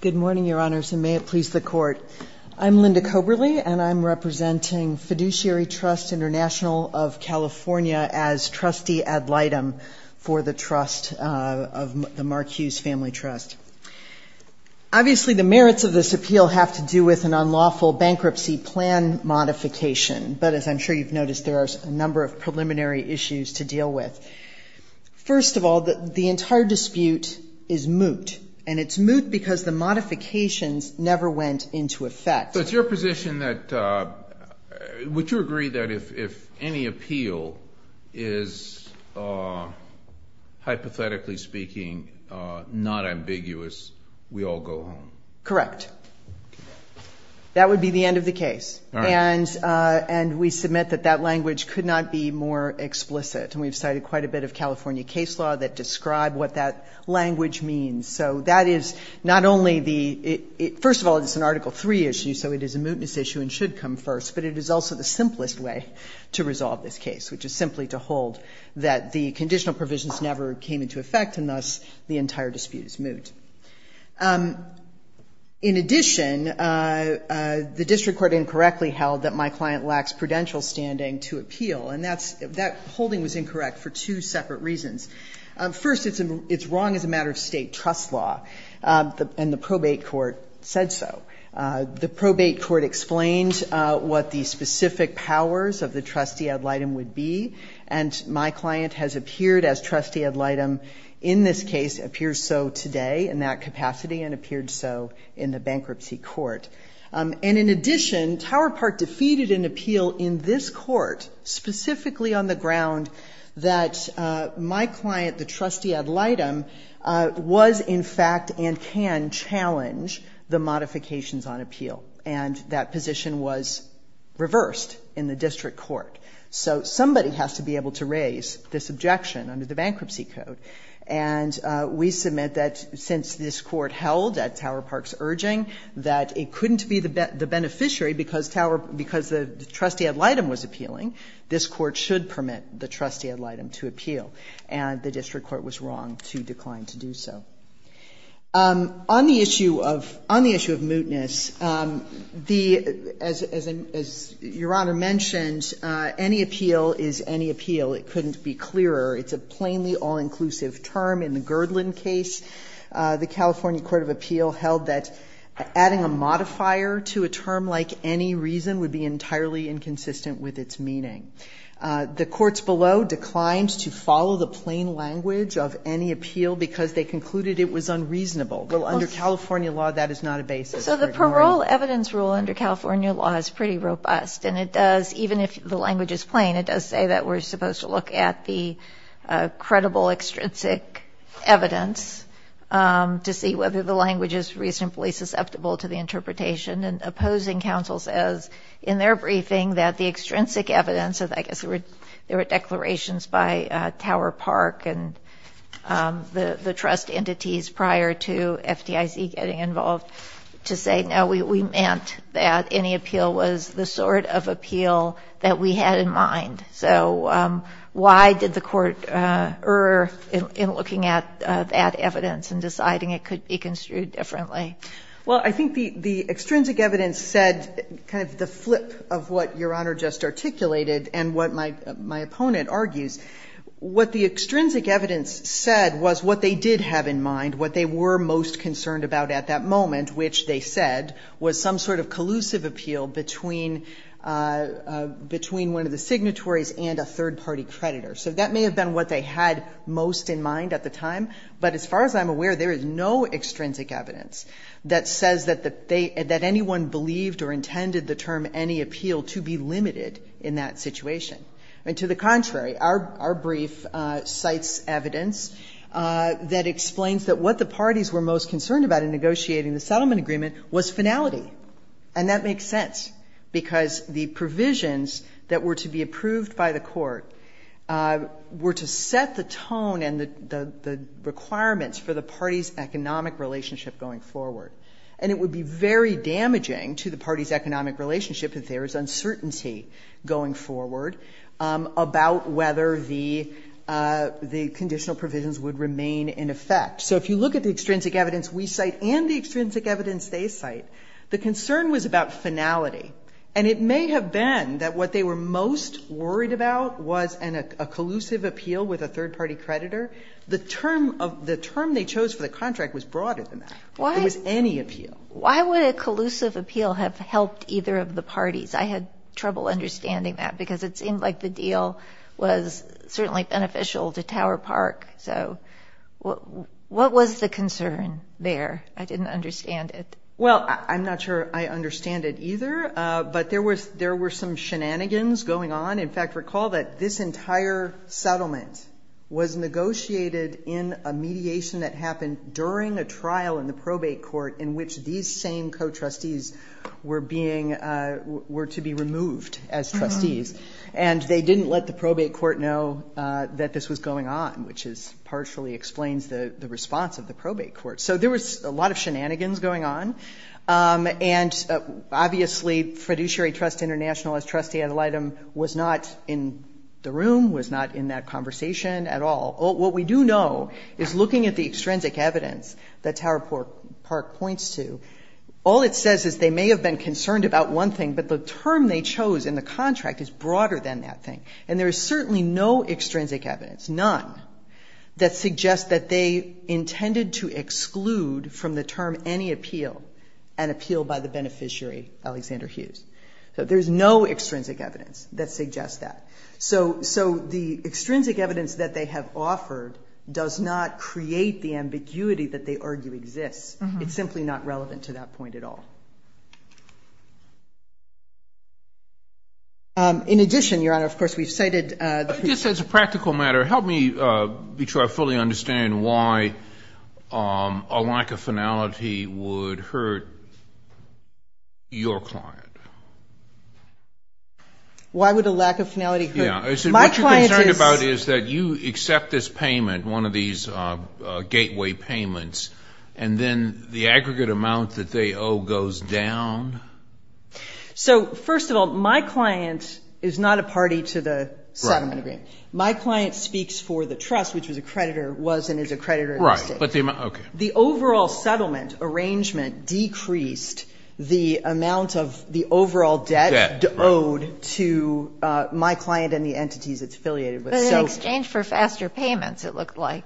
Good morning, Your Honors, and may it please the Court. I'm Linda Coberly, and I'm representing Fiduciary Trust Int'l of California as trustee ad litem for the trust of the Mark Hughes Family Trust. Obviously, the merits of this appeal have to do with an unlawful bankruptcy plan modification, but as I'm sure you've noticed, there are a number of preliminary issues to deal with. First of all, the entire dispute is moot, and it's moot because the modifications never went into effect. So it's your position that would you agree that if any appeal is, hypothetically speaking, not ambiguous, we all go home? Correct. That would be the end of the case, and we submit that that language could not be more explicit, and we've cited quite a bit of California case law that describe what that language means. So that is not only the – first of all, it's an Article III issue, so it is a mootness issue and should come first, but it is also the simplest way to resolve this case, which is simply to hold that the conditional provisions never came into effect, and thus the entire dispute is moot. In addition, the district court incorrectly held that my client lacks prudential standing to appeal, and that holding was incorrect for two separate reasons. First, it's wrong as a matter of state trust law, and the probate court said so. The probate court explained what the specific powers of the trustee ad litem would be, and my client has appeared as trustee ad litem in this case, appears so today in that capacity and appeared so in the bankruptcy court. And in addition, Tower Park defeated an appeal in this court specifically on the ground that my client, the trustee ad litem, was in fact and can challenge the modifications on appeal, and that position was reversed in the district court. So somebody has to be able to raise this objection under the bankruptcy code, and we submit that since this court held at Tower Park's urging that it couldn't be the beneficiary because the trustee ad litem was appealing, this court should permit the trustee ad litem to appeal, and the district court was wrong to decline to do so. On the issue of mootness, as Your Honor mentioned, any appeal is any appeal. It couldn't be clearer. It's a plainly all-inclusive term. In the Girdland case, the California Court of Appeal held that adding a modifier to a term like any reason would be entirely inconsistent with its meaning. The courts below declined to follow the plain language of any appeal because they concluded it was unreasonable. Well, under California law, that is not a basis. So the parole evidence rule under California law is pretty robust, and it does, even if the language is plain, it does say that we're supposed to look at the credible extrinsic evidence to see whether the language is reasonably susceptible to the interpretation. And opposing counsel says in their briefing that the extrinsic evidence, I guess there were declarations by Tower Park and the trust entities prior to FDIC getting involved, to say no, we meant that any appeal was the sort of appeal that we had in mind. So why did the court err in looking at that evidence and deciding it could be construed differently? Well, I think the extrinsic evidence said kind of the flip of what Your Honor just articulated and what my opponent argues. What the extrinsic evidence said was what they did have in mind, what they were most concerned about at that moment, which they said was some sort of collusive appeal between one of the signatories and a third-party creditor. So that may have been what they had most in mind at the time, but as far as I'm aware there is no extrinsic evidence that says that anyone believed or intended the term any appeal to be limited in that situation. And to the contrary, our brief cites evidence that explains that what the parties were most concerned about in negotiating the settlement agreement was finality. And that makes sense because the provisions that were to be approved by the court were to set the tone and the requirements for the party's economic relationship going forward. And it would be very damaging to the party's economic relationship if there was uncertainty going forward about whether the conditional provisions would remain in effect. So if you look at the extrinsic evidence we cite and the extrinsic evidence they cite, the concern was about finality. And it may have been that what they were most worried about was a collusive appeal with a third-party creditor. The term they chose for the contract was broader than that. It was any appeal. Why would a collusive appeal have helped either of the parties? I had trouble understanding that because it seemed like the deal was certainly beneficial to Tower Park. So what was the concern there? I didn't understand it. Well, I'm not sure I understand it either. But there were some shenanigans going on. In fact, recall that this entire settlement was negotiated in a mediation that happened during a trial in the probate court in which these same co-trustees were being, were to be removed as trustees. And they didn't let the probate court know that this was going on, which partially explains the response of the probate court. So there was a lot of shenanigans going on. And obviously, Fiduciary Trust International as trustee ad litem was not in the room, was not in that conversation at all. What we do know is looking at the extrinsic evidence that Tower Park points to, all it says is they may have been concerned about one thing, but the term they chose in the contract is broader than that thing. And there is certainly no extrinsic evidence, none, that suggests that they intended to exclude from the term any appeal an appeal by the beneficiary, Alexander Hughes. So there's no extrinsic evidence that suggests that. So the extrinsic evidence that they have offered does not create the ambiguity that they argue exists. It's simply not relevant to that point at all. In addition, Your Honor, of course, we've cited. Just as a practical matter, help me be sure I fully understand why a lack of finality would hurt your client. Why would a lack of finality hurt my client? What you're concerned about is that you accept this payment, one of these gateway payments, and then the aggregate amount that they owe goes down. So, first of all, my client is not a party to the settlement agreement. My client speaks for the trust, which was a creditor, was and is a creditor. Right. Okay. The overall settlement arrangement decreased the amount of the overall debt owed to my client and the entities it's affiliated with. But in exchange for faster payments, it looked like.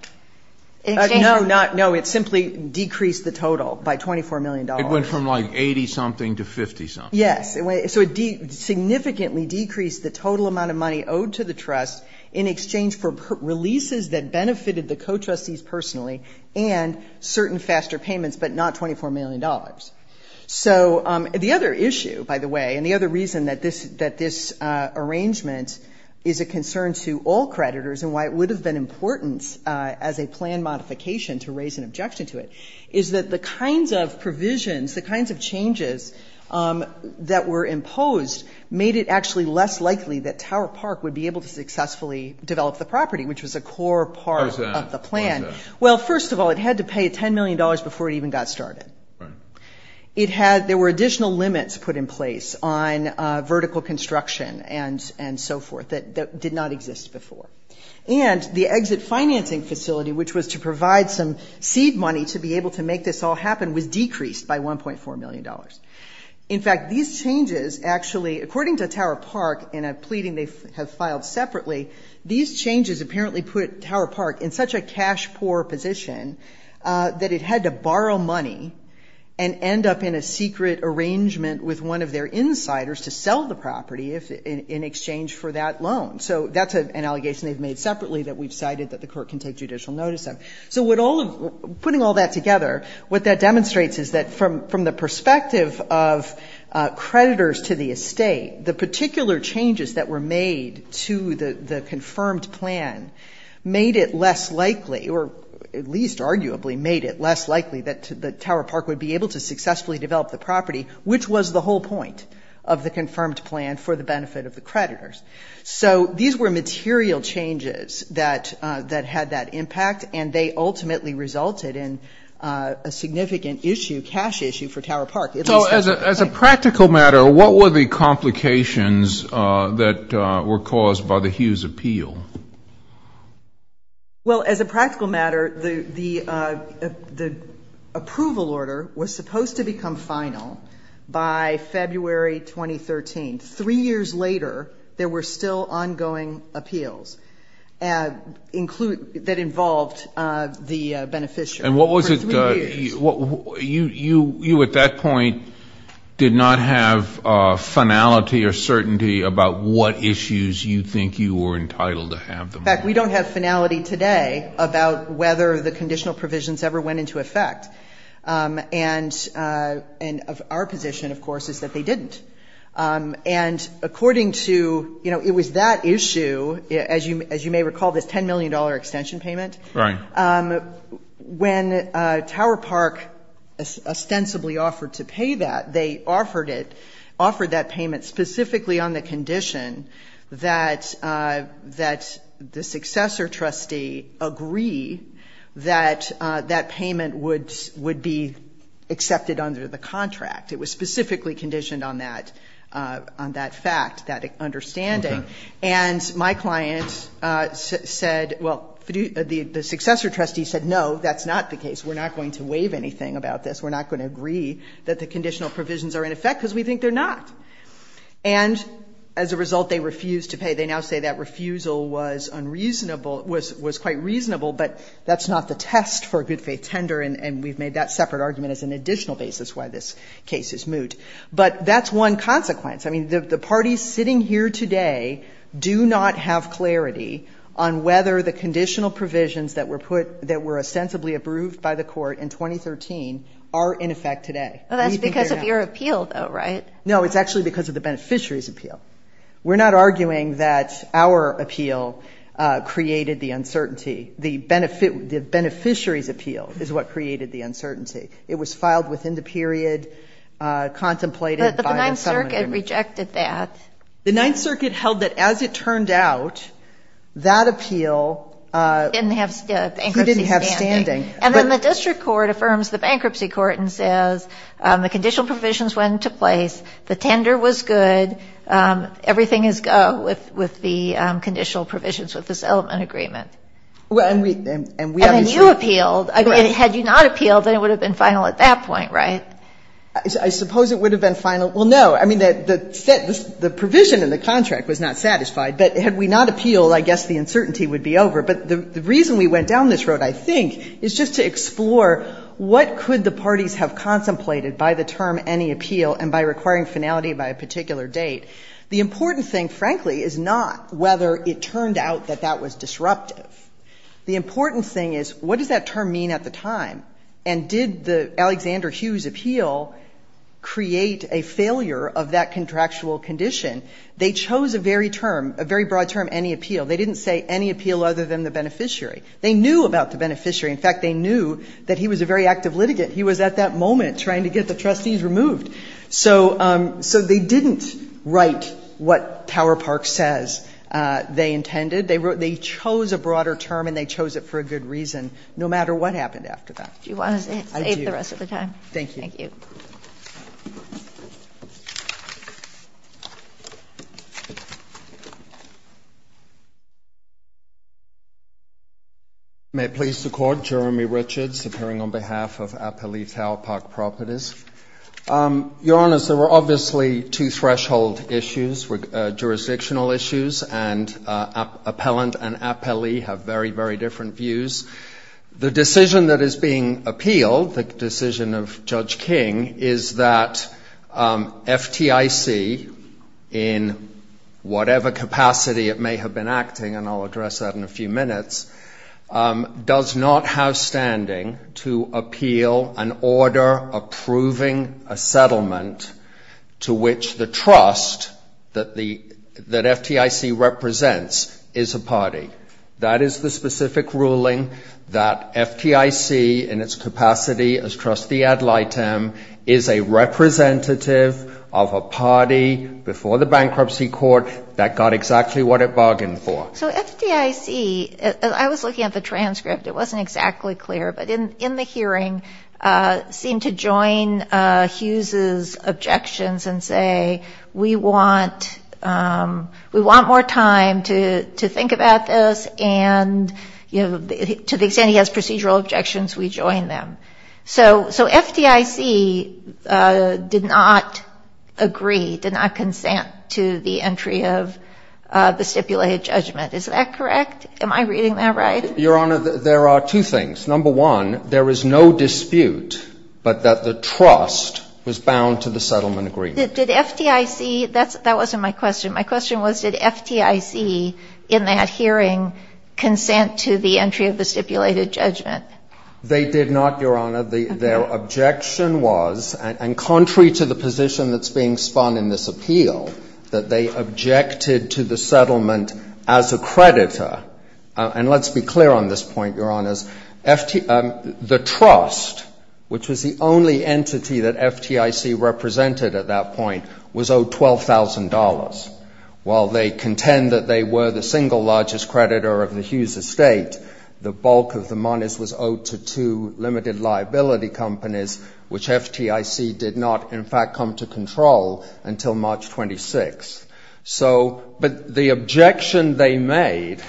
No, no. It simply decreased the total by $24 million. It went from like 80-something to 50-something. Yes. So it significantly decreased the total amount of money owed to the trust in exchange for releases that benefited the co-trustees personally and certain faster payments, but not $24 million. So the other issue, by the way, and the other reason that this arrangement is a concern to all creditors and why it would have been important as a plan modification to raise an objection to it, is that the kinds of provisions, the kinds of changes that were imposed, made it actually less likely that Tower Park would be able to successfully develop the property, which was a core part of the plan. How is that? Well, first of all, it had to pay $10 million before it even got started. Right. There were additional limits put in place on vertical construction and so forth that did not exist before. And the exit financing facility, which was to provide some seed money to be able to make this all happen, was decreased by $1.4 million. In fact, these changes actually, according to Tower Park in a pleading they have filed separately, these changes apparently put Tower Park in such a cash-poor position that it had to borrow money and end up in a secret arrangement with one of their insiders to sell the property in exchange for that loan. So that's an allegation they've made separately that we've cited that the court can take judicial notice of. So putting all that together, what that demonstrates is that from the perspective of creditors to the estate, the particular changes that were made to the confirmed plan made it less likely, or at least arguably made it less likely that Tower Park would be able to successfully develop the property, which was the whole point of the confirmed plan for the benefit of the creditors. So these were material changes that had that impact, and they ultimately resulted in a significant issue, cash issue, for Tower Park. So as a practical matter, what were the complications that were caused by the Hughes appeal? Well, as a practical matter, the approval order was supposed to become final by February 2013. Three years later, there were still ongoing appeals that involved the beneficiary. And what was it? For three years. You at that point did not have finality or certainty about what issues you think you were entitled to have them. In fact, we don't have finality today about whether the conditional provisions ever went into effect. And our position, of course, is that they didn't. And according to, you know, it was that issue, as you may recall, this $10 million extension payment. Right. When Tower Park ostensibly offered to pay that, they offered that payment specifically on the condition that the successor trustee agree that that payment would be accepted under the contract. It was specifically conditioned on that fact, that understanding. And my client said, well, the successor trustee said, no, that's not the case. We're not going to waive anything about this. We're not going to agree that the conditional provisions are in effect because we think they're not. And as a result, they refused to pay. They now say that refusal was unreasonable, was quite reasonable, but that's not the test for a good faith tender. And we've made that separate argument as an additional basis why this case is moot. But that's one consequence. I mean, the parties sitting here today do not have clarity on whether the conditional provisions that were put, that were ostensibly approved by the court in 2013 are in effect today. That's because of your appeal, though, right? No, it's actually because of the beneficiary's appeal. We're not arguing that our appeal created the uncertainty. The beneficiary's appeal is what created the uncertainty. It was filed within the period contemplated. But the Ninth Circuit rejected that. The Ninth Circuit held that as it turned out, that appeal didn't have bankruptcy standing. And then the district court affirms the bankruptcy court and says the conditional provisions went into place, the tender was good, everything is go with the conditional provisions with the settlement agreement. And then you appealed. I mean, had you not appealed, then it would have been final at that point, right? I suppose it would have been final. Well, no. I mean, the provision in the contract was not satisfied. But had we not appealed, I guess the uncertainty would be over. But the reason we went down this road, I think, is just to explore what could the parties have contemplated by the term any appeal and by requiring finality by a particular date. The important thing, frankly, is not whether it turned out that that was disruptive. The important thing is what does that term mean at the time? And did the Alexander Hughes appeal create a failure of that contractual condition? They chose a very term, a very broad term, any appeal. They didn't say any appeal other than the beneficiary. They knew about the beneficiary. In fact, they knew that he was a very active litigant. He was at that moment trying to get the trustees removed. So they didn't write what Tower Park says they intended. They chose a broader term and they chose it for a good reason no matter what happened after that. Do you want to save the rest of the time? I do. Thank you. Thank you. May it please the Court. Jeremy Richards, appearing on behalf of Appalachia Tower Park Properties. Your Honor, there were obviously two threshold issues, jurisdictional issues, and appellant and appellee have very, very different views. The decision that is being appealed, the decision of Judge King, is that FTIC, in whatever capacity it may have been acting, and I'll address that in a few minutes, does not have standing to appeal an order approving a settlement to which the FTIC represents is a party. That is the specific ruling that FTIC, in its capacity as trustee ad litem, is a representative of a party before the bankruptcy court that got exactly what it bargained for. So FTIC, I was looking at the transcript. It wasn't exactly clear. But in the hearing, seemed to join Hughes' objections and say, we want more time to think about this. And to the extent he has procedural objections, we join them. So FTIC did not agree, did not consent to the entry of the stipulated judgment. Is that correct? Am I reading that right? Your Honor, there are two things. Number one, there is no dispute, but that the trust was bound to the settlement agreement. Did FTIC, that wasn't my question. My question was, did FTIC in that hearing consent to the entry of the stipulated judgment? They did not, Your Honor. Their objection was, and contrary to the position that's being spun in this appeal, that they objected to the settlement as a creditor. And let's be clear on this point, Your Honors. The trust, which was the only entity that FTIC represented at that point, was owed $12,000. While they contend that they were the single largest creditor of the Hughes estate, the bulk of the monies was owed to two limited liability companies, which FTIC did not, in fact, come to control until March 26th. But the objection they made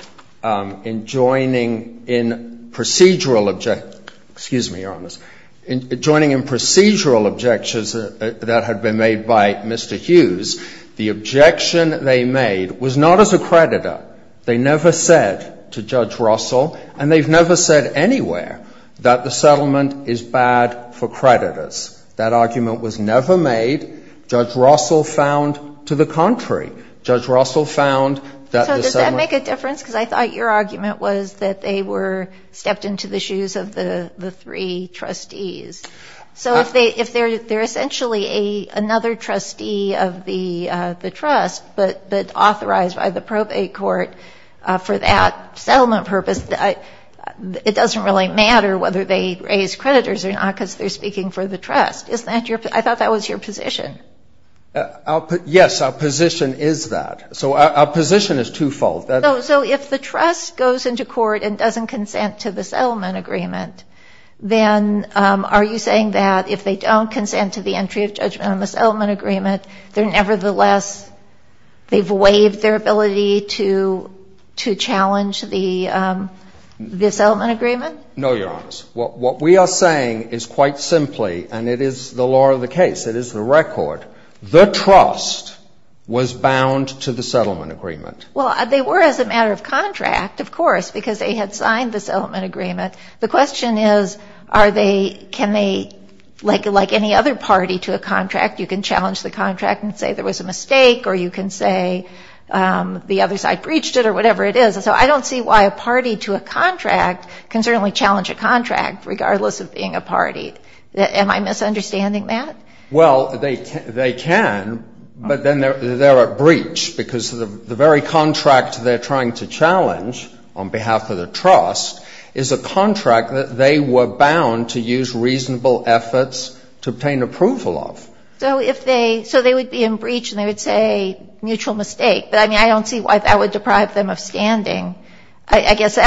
in joining in procedural, excuse me, Your Honors, in joining in procedural objections that had been made by Mr. Hughes, the objection they made was not as a creditor. They never said to Judge Russell, and they've never said anywhere, that the settlement is bad for creditors. That argument was never made. Judge Russell found to the contrary. Judge Russell found that the settlement... So does that make a difference? Because I thought your argument was that they were stepped into the shoes of the three trustees. So if they're essentially another trustee of the trust but authorized by the probate court for that settlement purpose, it doesn't really matter whether they raise creditors or not because they're speaking for the trust. I thought that was your position. Yes, our position is that. So our position is twofold. So if the trust goes into court and doesn't consent to the settlement agreement, then are you saying that if they don't consent to the entry of judgment on the settlement agreement, they're nevertheless, they've waived their ability to challenge the settlement agreement? No, Your Honors. What we are saying is quite simply, and it is the law of the case, it is the record, the trust was bound to the settlement agreement. Well, they were as a matter of contract, of course, because they had signed the settlement agreement. The question is, are they, can they, like any other party to a contract, you can challenge the contract and say there was a mistake or you can say the other side breached it or whatever it is. So I don't see why a party to a contract can certainly challenge a contract regardless of being a party. Am I misunderstanding that? Well, they can, but then they're at breach because the very contract they're trying to challenge on behalf of the trust is a contract that they were bound to use reasonable efforts to obtain approval of. So if they, so they would be in breach and they would say mutual mistake. But I mean, I don't see why that would deprive them of standing. I guess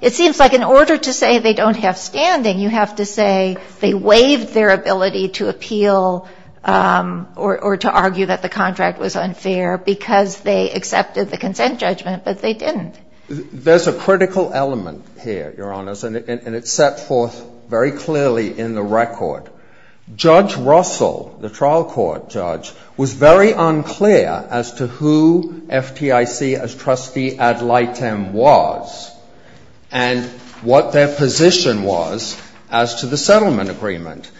it seems like in order to say they don't have standing, you have to say they waived their ability to appeal or to argue that the contract was unfair because they accepted the consent judgment, but they didn't. There's a critical element here, Your Honors, and it's set forth very clearly in the record. Judge Russell, the trial court judge, was very unclear as to who FTIC as trustee ad litem was and what their position was as to the settlement agreement.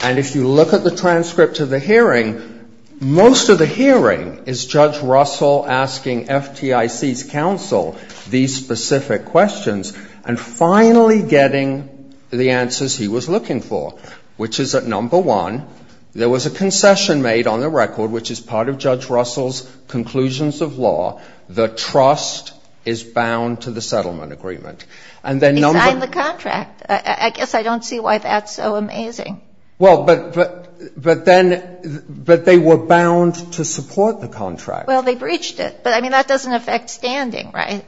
And if you look at the transcript of the hearing, most of the hearing is Judge Russell asking FTIC's counsel these specific questions and finally getting the answer, which is that, number one, there was a concession made on the record, which is part of Judge Russell's conclusions of law. The trust is bound to the settlement agreement. And then number... They signed the contract. I guess I don't see why that's so amazing. Well, but then, but they were bound to support the contract. Well, they breached it. But I mean, that doesn't affect standing, right?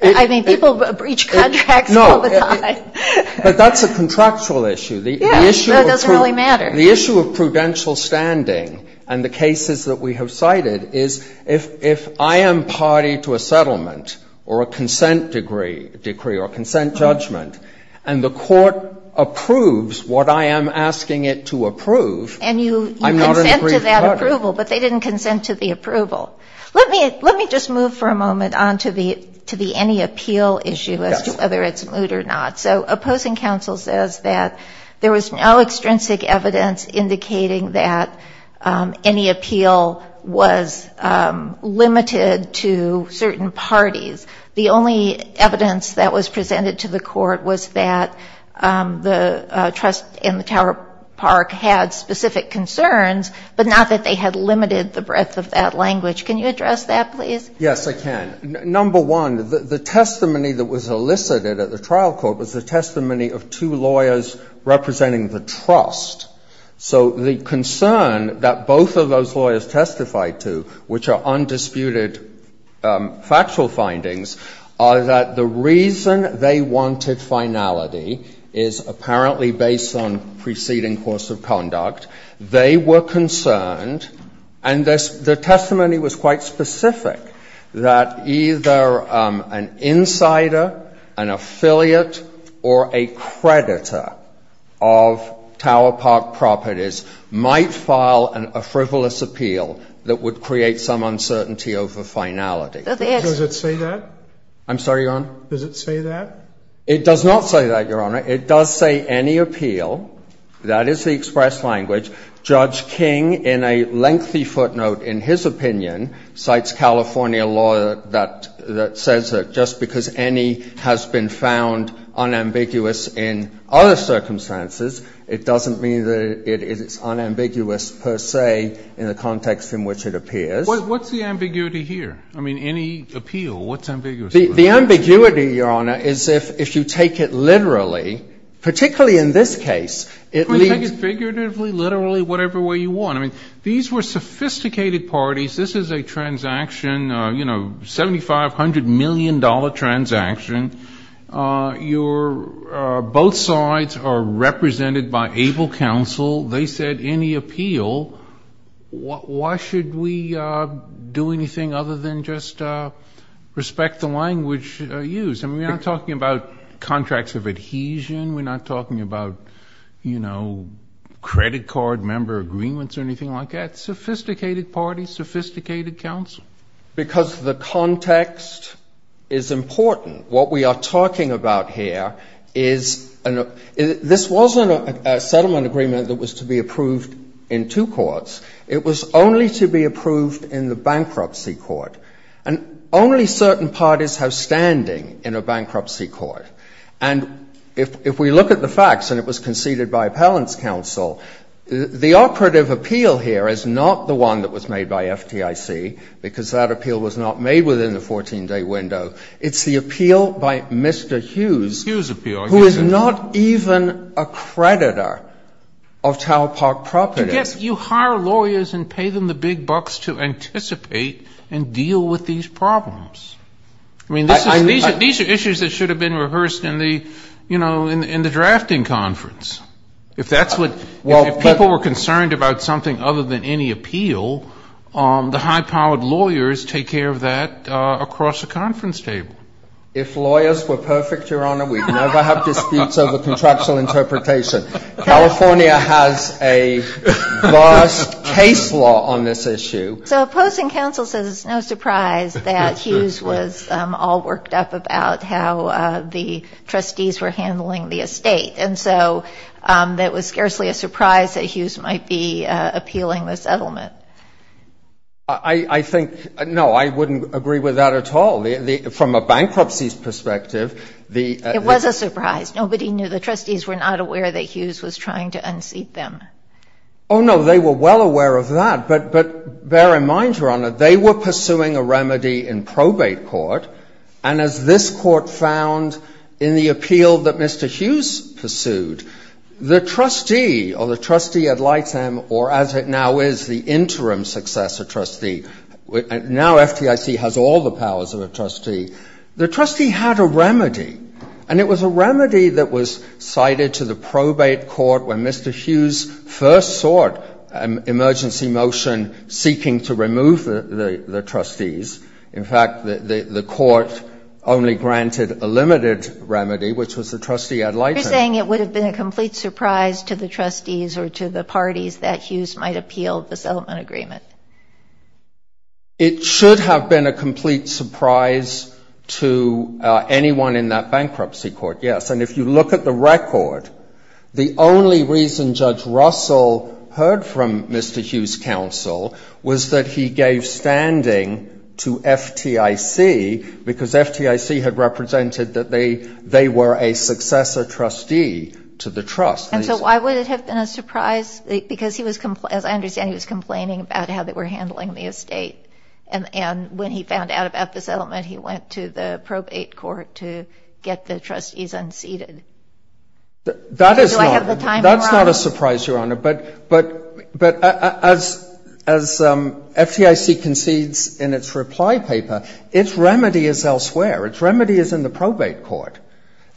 I mean, people breach contracts all the time. But that's a contractual issue. Yeah. It doesn't really matter. The issue of prudential standing and the cases that we have cited is if I am party to a settlement or a consent decree or consent judgment and the court approves what I am asking it to approve, I'm not an aggrieved party. And you consent to that approval, but they didn't consent to the approval. Let me just move for a moment on to the any appeal issue as to whether it's moot or not. So opposing counsel says that there was no extrinsic evidence indicating that any appeal was limited to certain parties. The only evidence that was presented to the court was that the trust in the Tower Park had specific concerns, but not that they had limited the breadth of that language. Can you address that, please? Yes, I can. Number one, the testimony that was elicited at the trial court was the testimony of two lawyers representing the trust. So the concern that both of those lawyers testified to, which are undisputed factual findings, are that the reason they wanted finality is apparently based on preceding course of conduct. They were concerned, and the testimony was quite specific, that either an insider, an affiliate, or a creditor of Tower Park Properties might file a frivolous appeal that would create some uncertainty over finality. Does it say that? I'm sorry, Your Honor? Does it say that? It does not say that, Your Honor. It does say any appeal. That is the express language. Judge King, in a lengthy footnote in his opinion, cites California law that says that just because any has been found unambiguous in other circumstances, it doesn't mean that it is unambiguous per se in the context in which it appears. What's the ambiguity here? I mean, any appeal, what's ambiguity? The ambiguity, Your Honor, is if you take it literally, particularly in this case, it means ---- Take it figuratively, literally, whatever way you want. I mean, these were sophisticated parties. This is a transaction, you know, $7,500 million transaction. Both sides are represented by able counsel. They said any appeal. Why should we do anything other than just respect the language used? I mean, we're not talking about contracts of adhesion. We're not talking about, you know, credit card member agreements or anything like that. Sophisticated parties, sophisticated counsel. Because the context is important. What we are talking about here is this wasn't a settlement agreement that was to be approved in two courts. It was only to be approved in the bankruptcy court. And only certain parties have standing in a bankruptcy court. And if we look at the facts, and it was conceded by appellant's counsel, the operative appeal here is not the one that was made by FDIC, because that appeal was not made within the 14-day window. It's the appeal by Mr. Hughes. The Hughes appeal. Who is not even a creditor of Tower Park Properties. You hire lawyers and pay them the big bucks to anticipate and deal with these problems. I mean, these are issues that should have been rehearsed in the, you know, in the drafting conference. If that's what, if people were concerned about something other than any appeal, the high-powered lawyers take care of that across a conference table. If lawyers were perfect, Your Honor, we'd never have disputes over contractual interpretation. California has a vast case law on this issue. So opposing counsel says it's no surprise that Hughes was all worked up about how the trustees were handling the estate. And so that was scarcely a surprise that Hughes might be appealing the settlement. I think, no, I wouldn't agree with that at all. From a bankruptcy's perspective, the It was a surprise. Nobody knew. The trustees were not aware that Hughes was trying to unseat them. Oh, no, they were well aware of that. But bear in mind, Your Honor, they were pursuing a remedy in probate court. And as this Court found in the appeal that Mr. Hughes pursued, the trustee or the trustee at Lyte M, or as it now is, the interim successor trustee, now FTIC has all the powers of a trustee, the trustee had a remedy. And it was a remedy that was cited to the probate court when Mr. Hughes first sought an emergency motion seeking to remove the trustees. In fact, the court only granted a limited remedy, which was the trustee at Lyte M. You're saying it would have been a complete surprise to the trustees or to the parties that Hughes might appeal the settlement agreement. It should have been a complete surprise to anyone in that bankruptcy court, yes. And if you look at the record, the only reason Judge Russell heard from Mr. Hughes' counsel was that he gave standing to FTIC because FTIC had represented that they were a successor trustee to the trust. And so why would it have been a surprise? Because he was, as I understand, he was complaining about how they were handling the estate. And when he found out about the settlement, he went to the probate court to get the remedy conceded. Do I have the timing wrong? That's not a surprise, Your Honor. But as FTIC concedes in its reply paper, its remedy is elsewhere. Its remedy is in the probate court.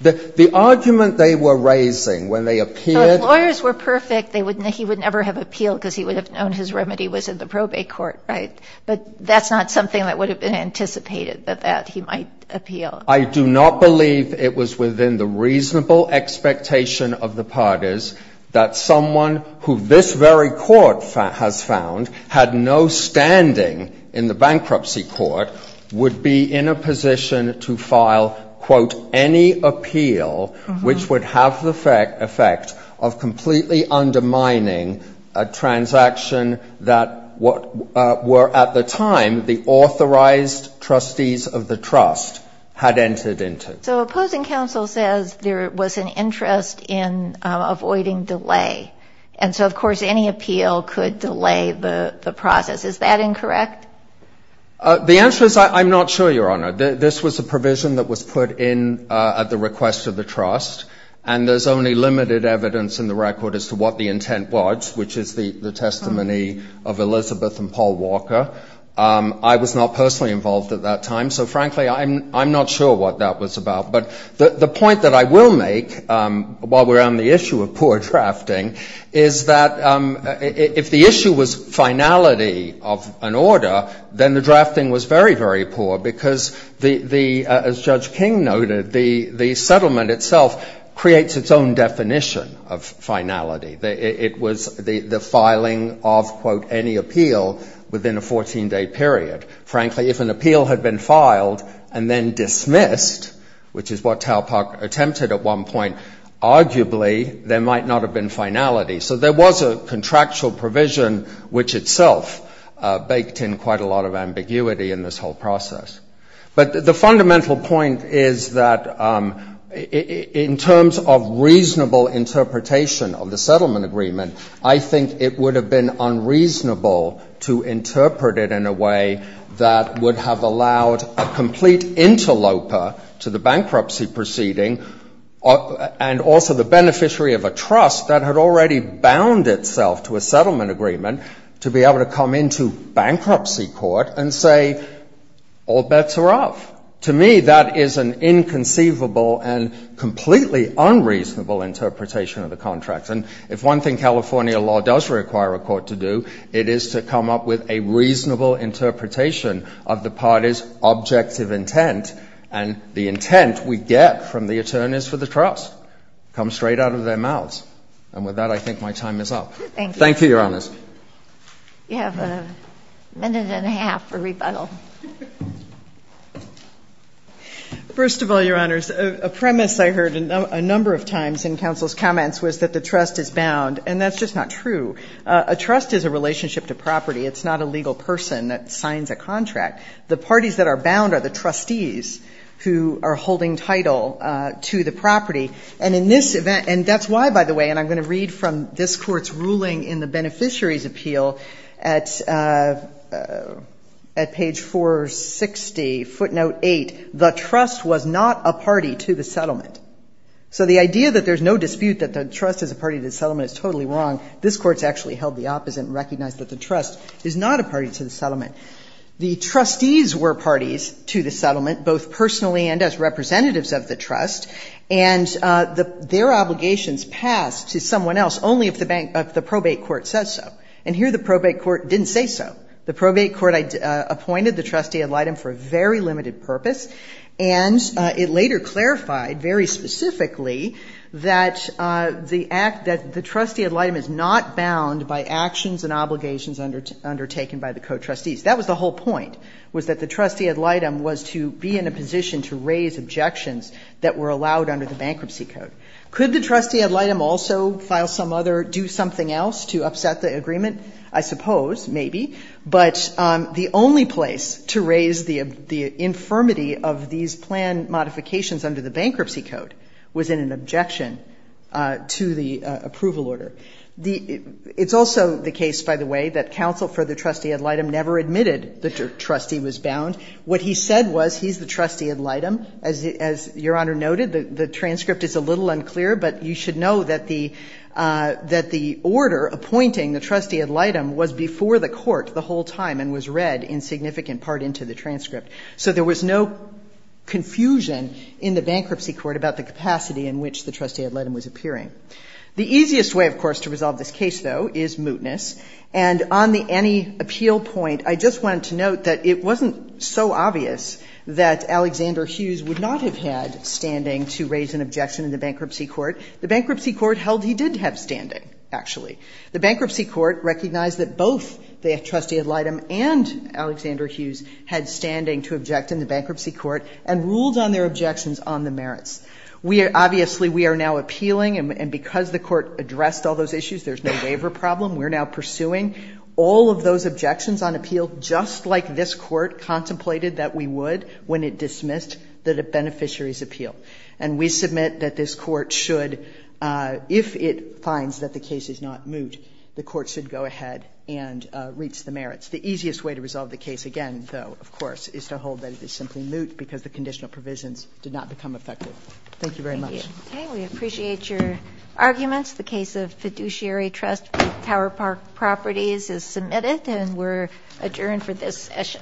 The argument they were raising when they appeared. So if lawyers were perfect, he would never have appealed because he would have known his remedy was in the probate court, right? But that's not something that would have been anticipated, that he might appeal. I do not believe it was within the reasonable expectation of the parties that someone who this very court has found had no standing in the bankruptcy court would be in a position to file, quote, any appeal which would have the effect of completely undermining a transaction that were at the time the authorized trustees of the trust had entered into. So opposing counsel says there was an interest in avoiding delay. And so, of course, any appeal could delay the process. Is that incorrect? The answer is I'm not sure, Your Honor. This was a provision that was put in at the request of the trust. And there's only limited evidence in the record as to what the intent was, which is the testimony of Elizabeth and Paul Walker. I was not personally involved at that time. So, frankly, I'm not sure what that was about. But the point that I will make, while we're on the issue of poor drafting, is that if the issue was finality of an order, then the drafting was very, very poor because the, as Judge King noted, the settlement itself creates its own definition of finality. It was the filing of, quote, any appeal within a 14-day period. Frankly, if an appeal had been filed and then dismissed, which is what Taupok attempted at one point, arguably there might not have been finality. So there was a contractual provision which itself baked in quite a lot of ambiguity in this whole process. But the fundamental point is that in terms of reasonable interpretation of the settlement agreement, I think it would have been unreasonable to interpret it in a way that would have allowed a complete interloper to the bankruptcy proceeding and also the beneficiary of a trust that had already bound itself to a settlement agreement to be able to come into bankruptcy court and say, all bets are off. To me, that is an inconceivable and completely unreasonable interpretation of the contract. And if one thing California law does require a court to do, it is to come up with a reasonable interpretation of the party's objective intent. And the intent we get from the attorneys for the trust comes straight out of their mouths. And with that, I think my time is up. Thank you, Your Honors. You have a minute and a half for rebuttal. First of all, Your Honors, a premise I heard a number of times in counsel's comments was that the trust is bound. And that's just not true. A trust is a relationship to property. It's not a legal person that signs a contract. The parties that are bound are the trustees who are holding title to the property. And in this event, and that's why, by the way, and I'm going to read from this court's ruling in the beneficiary's appeal at page 460, footnote 8, the trust was not a party to the settlement. So the idea that there's no dispute that the trust is a party to the settlement is totally wrong. This Court's actually held the opposite and recognized that the trust is not a party to the settlement. The trustees were parties to the settlement, both personally and as representatives of the trust. And their obligations pass to someone else only if the probate court says so. And here the probate court didn't say so. The probate court appointed the trustee ad litem for a very limited purpose. And it later clarified very specifically that the act that the trustee ad litem is not bound by actions and obligations undertaken by the co-trustees. That was the whole point, was that the trustee ad litem was to be in a position to raise objections that were allowed under the bankruptcy code. Could the trustee ad litem also file some other, do something else to upset the agreement? I suppose, maybe. But the only place to raise the infirmity of these plan modifications under the It's also the case, by the way, that counsel for the trustee ad litem never admitted the trustee was bound. What he said was he's the trustee ad litem. As Your Honor noted, the transcript is a little unclear. But you should know that the order appointing the trustee ad litem was before the court the whole time and was read in significant part into the transcript. So there was no confusion in the bankruptcy court about the capacity in which the trustee ad litem was appearing. The easiest way, of course, to resolve this case, though, is mootness. And on the any appeal point, I just wanted to note that it wasn't so obvious that Alexander Hughes would not have had standing to raise an objection in the bankruptcy court. The bankruptcy court held he did have standing, actually. The bankruptcy court recognized that both the trustee ad litem and Alexander Hughes had standing to object in the bankruptcy court and ruled on their objections on the merits. Obviously, we are now appealing, and because the court addressed all those issues, there's no waiver problem. We're now pursuing all of those objections on appeal just like this Court contemplated that we would when it dismissed the beneficiary's appeal. And we submit that this Court should, if it finds that the case is not moot, the Court should go ahead and reach the merits. The easiest way to resolve the case, again, though, of course, is to hold that it is simply moot because the conditional provisions did not become effective. Thank you very much. Thank you. Okay. We appreciate your arguments. The case of Fiduciary Trust Tower Park Properties is submitted, and we're adjourned for this session. All rise.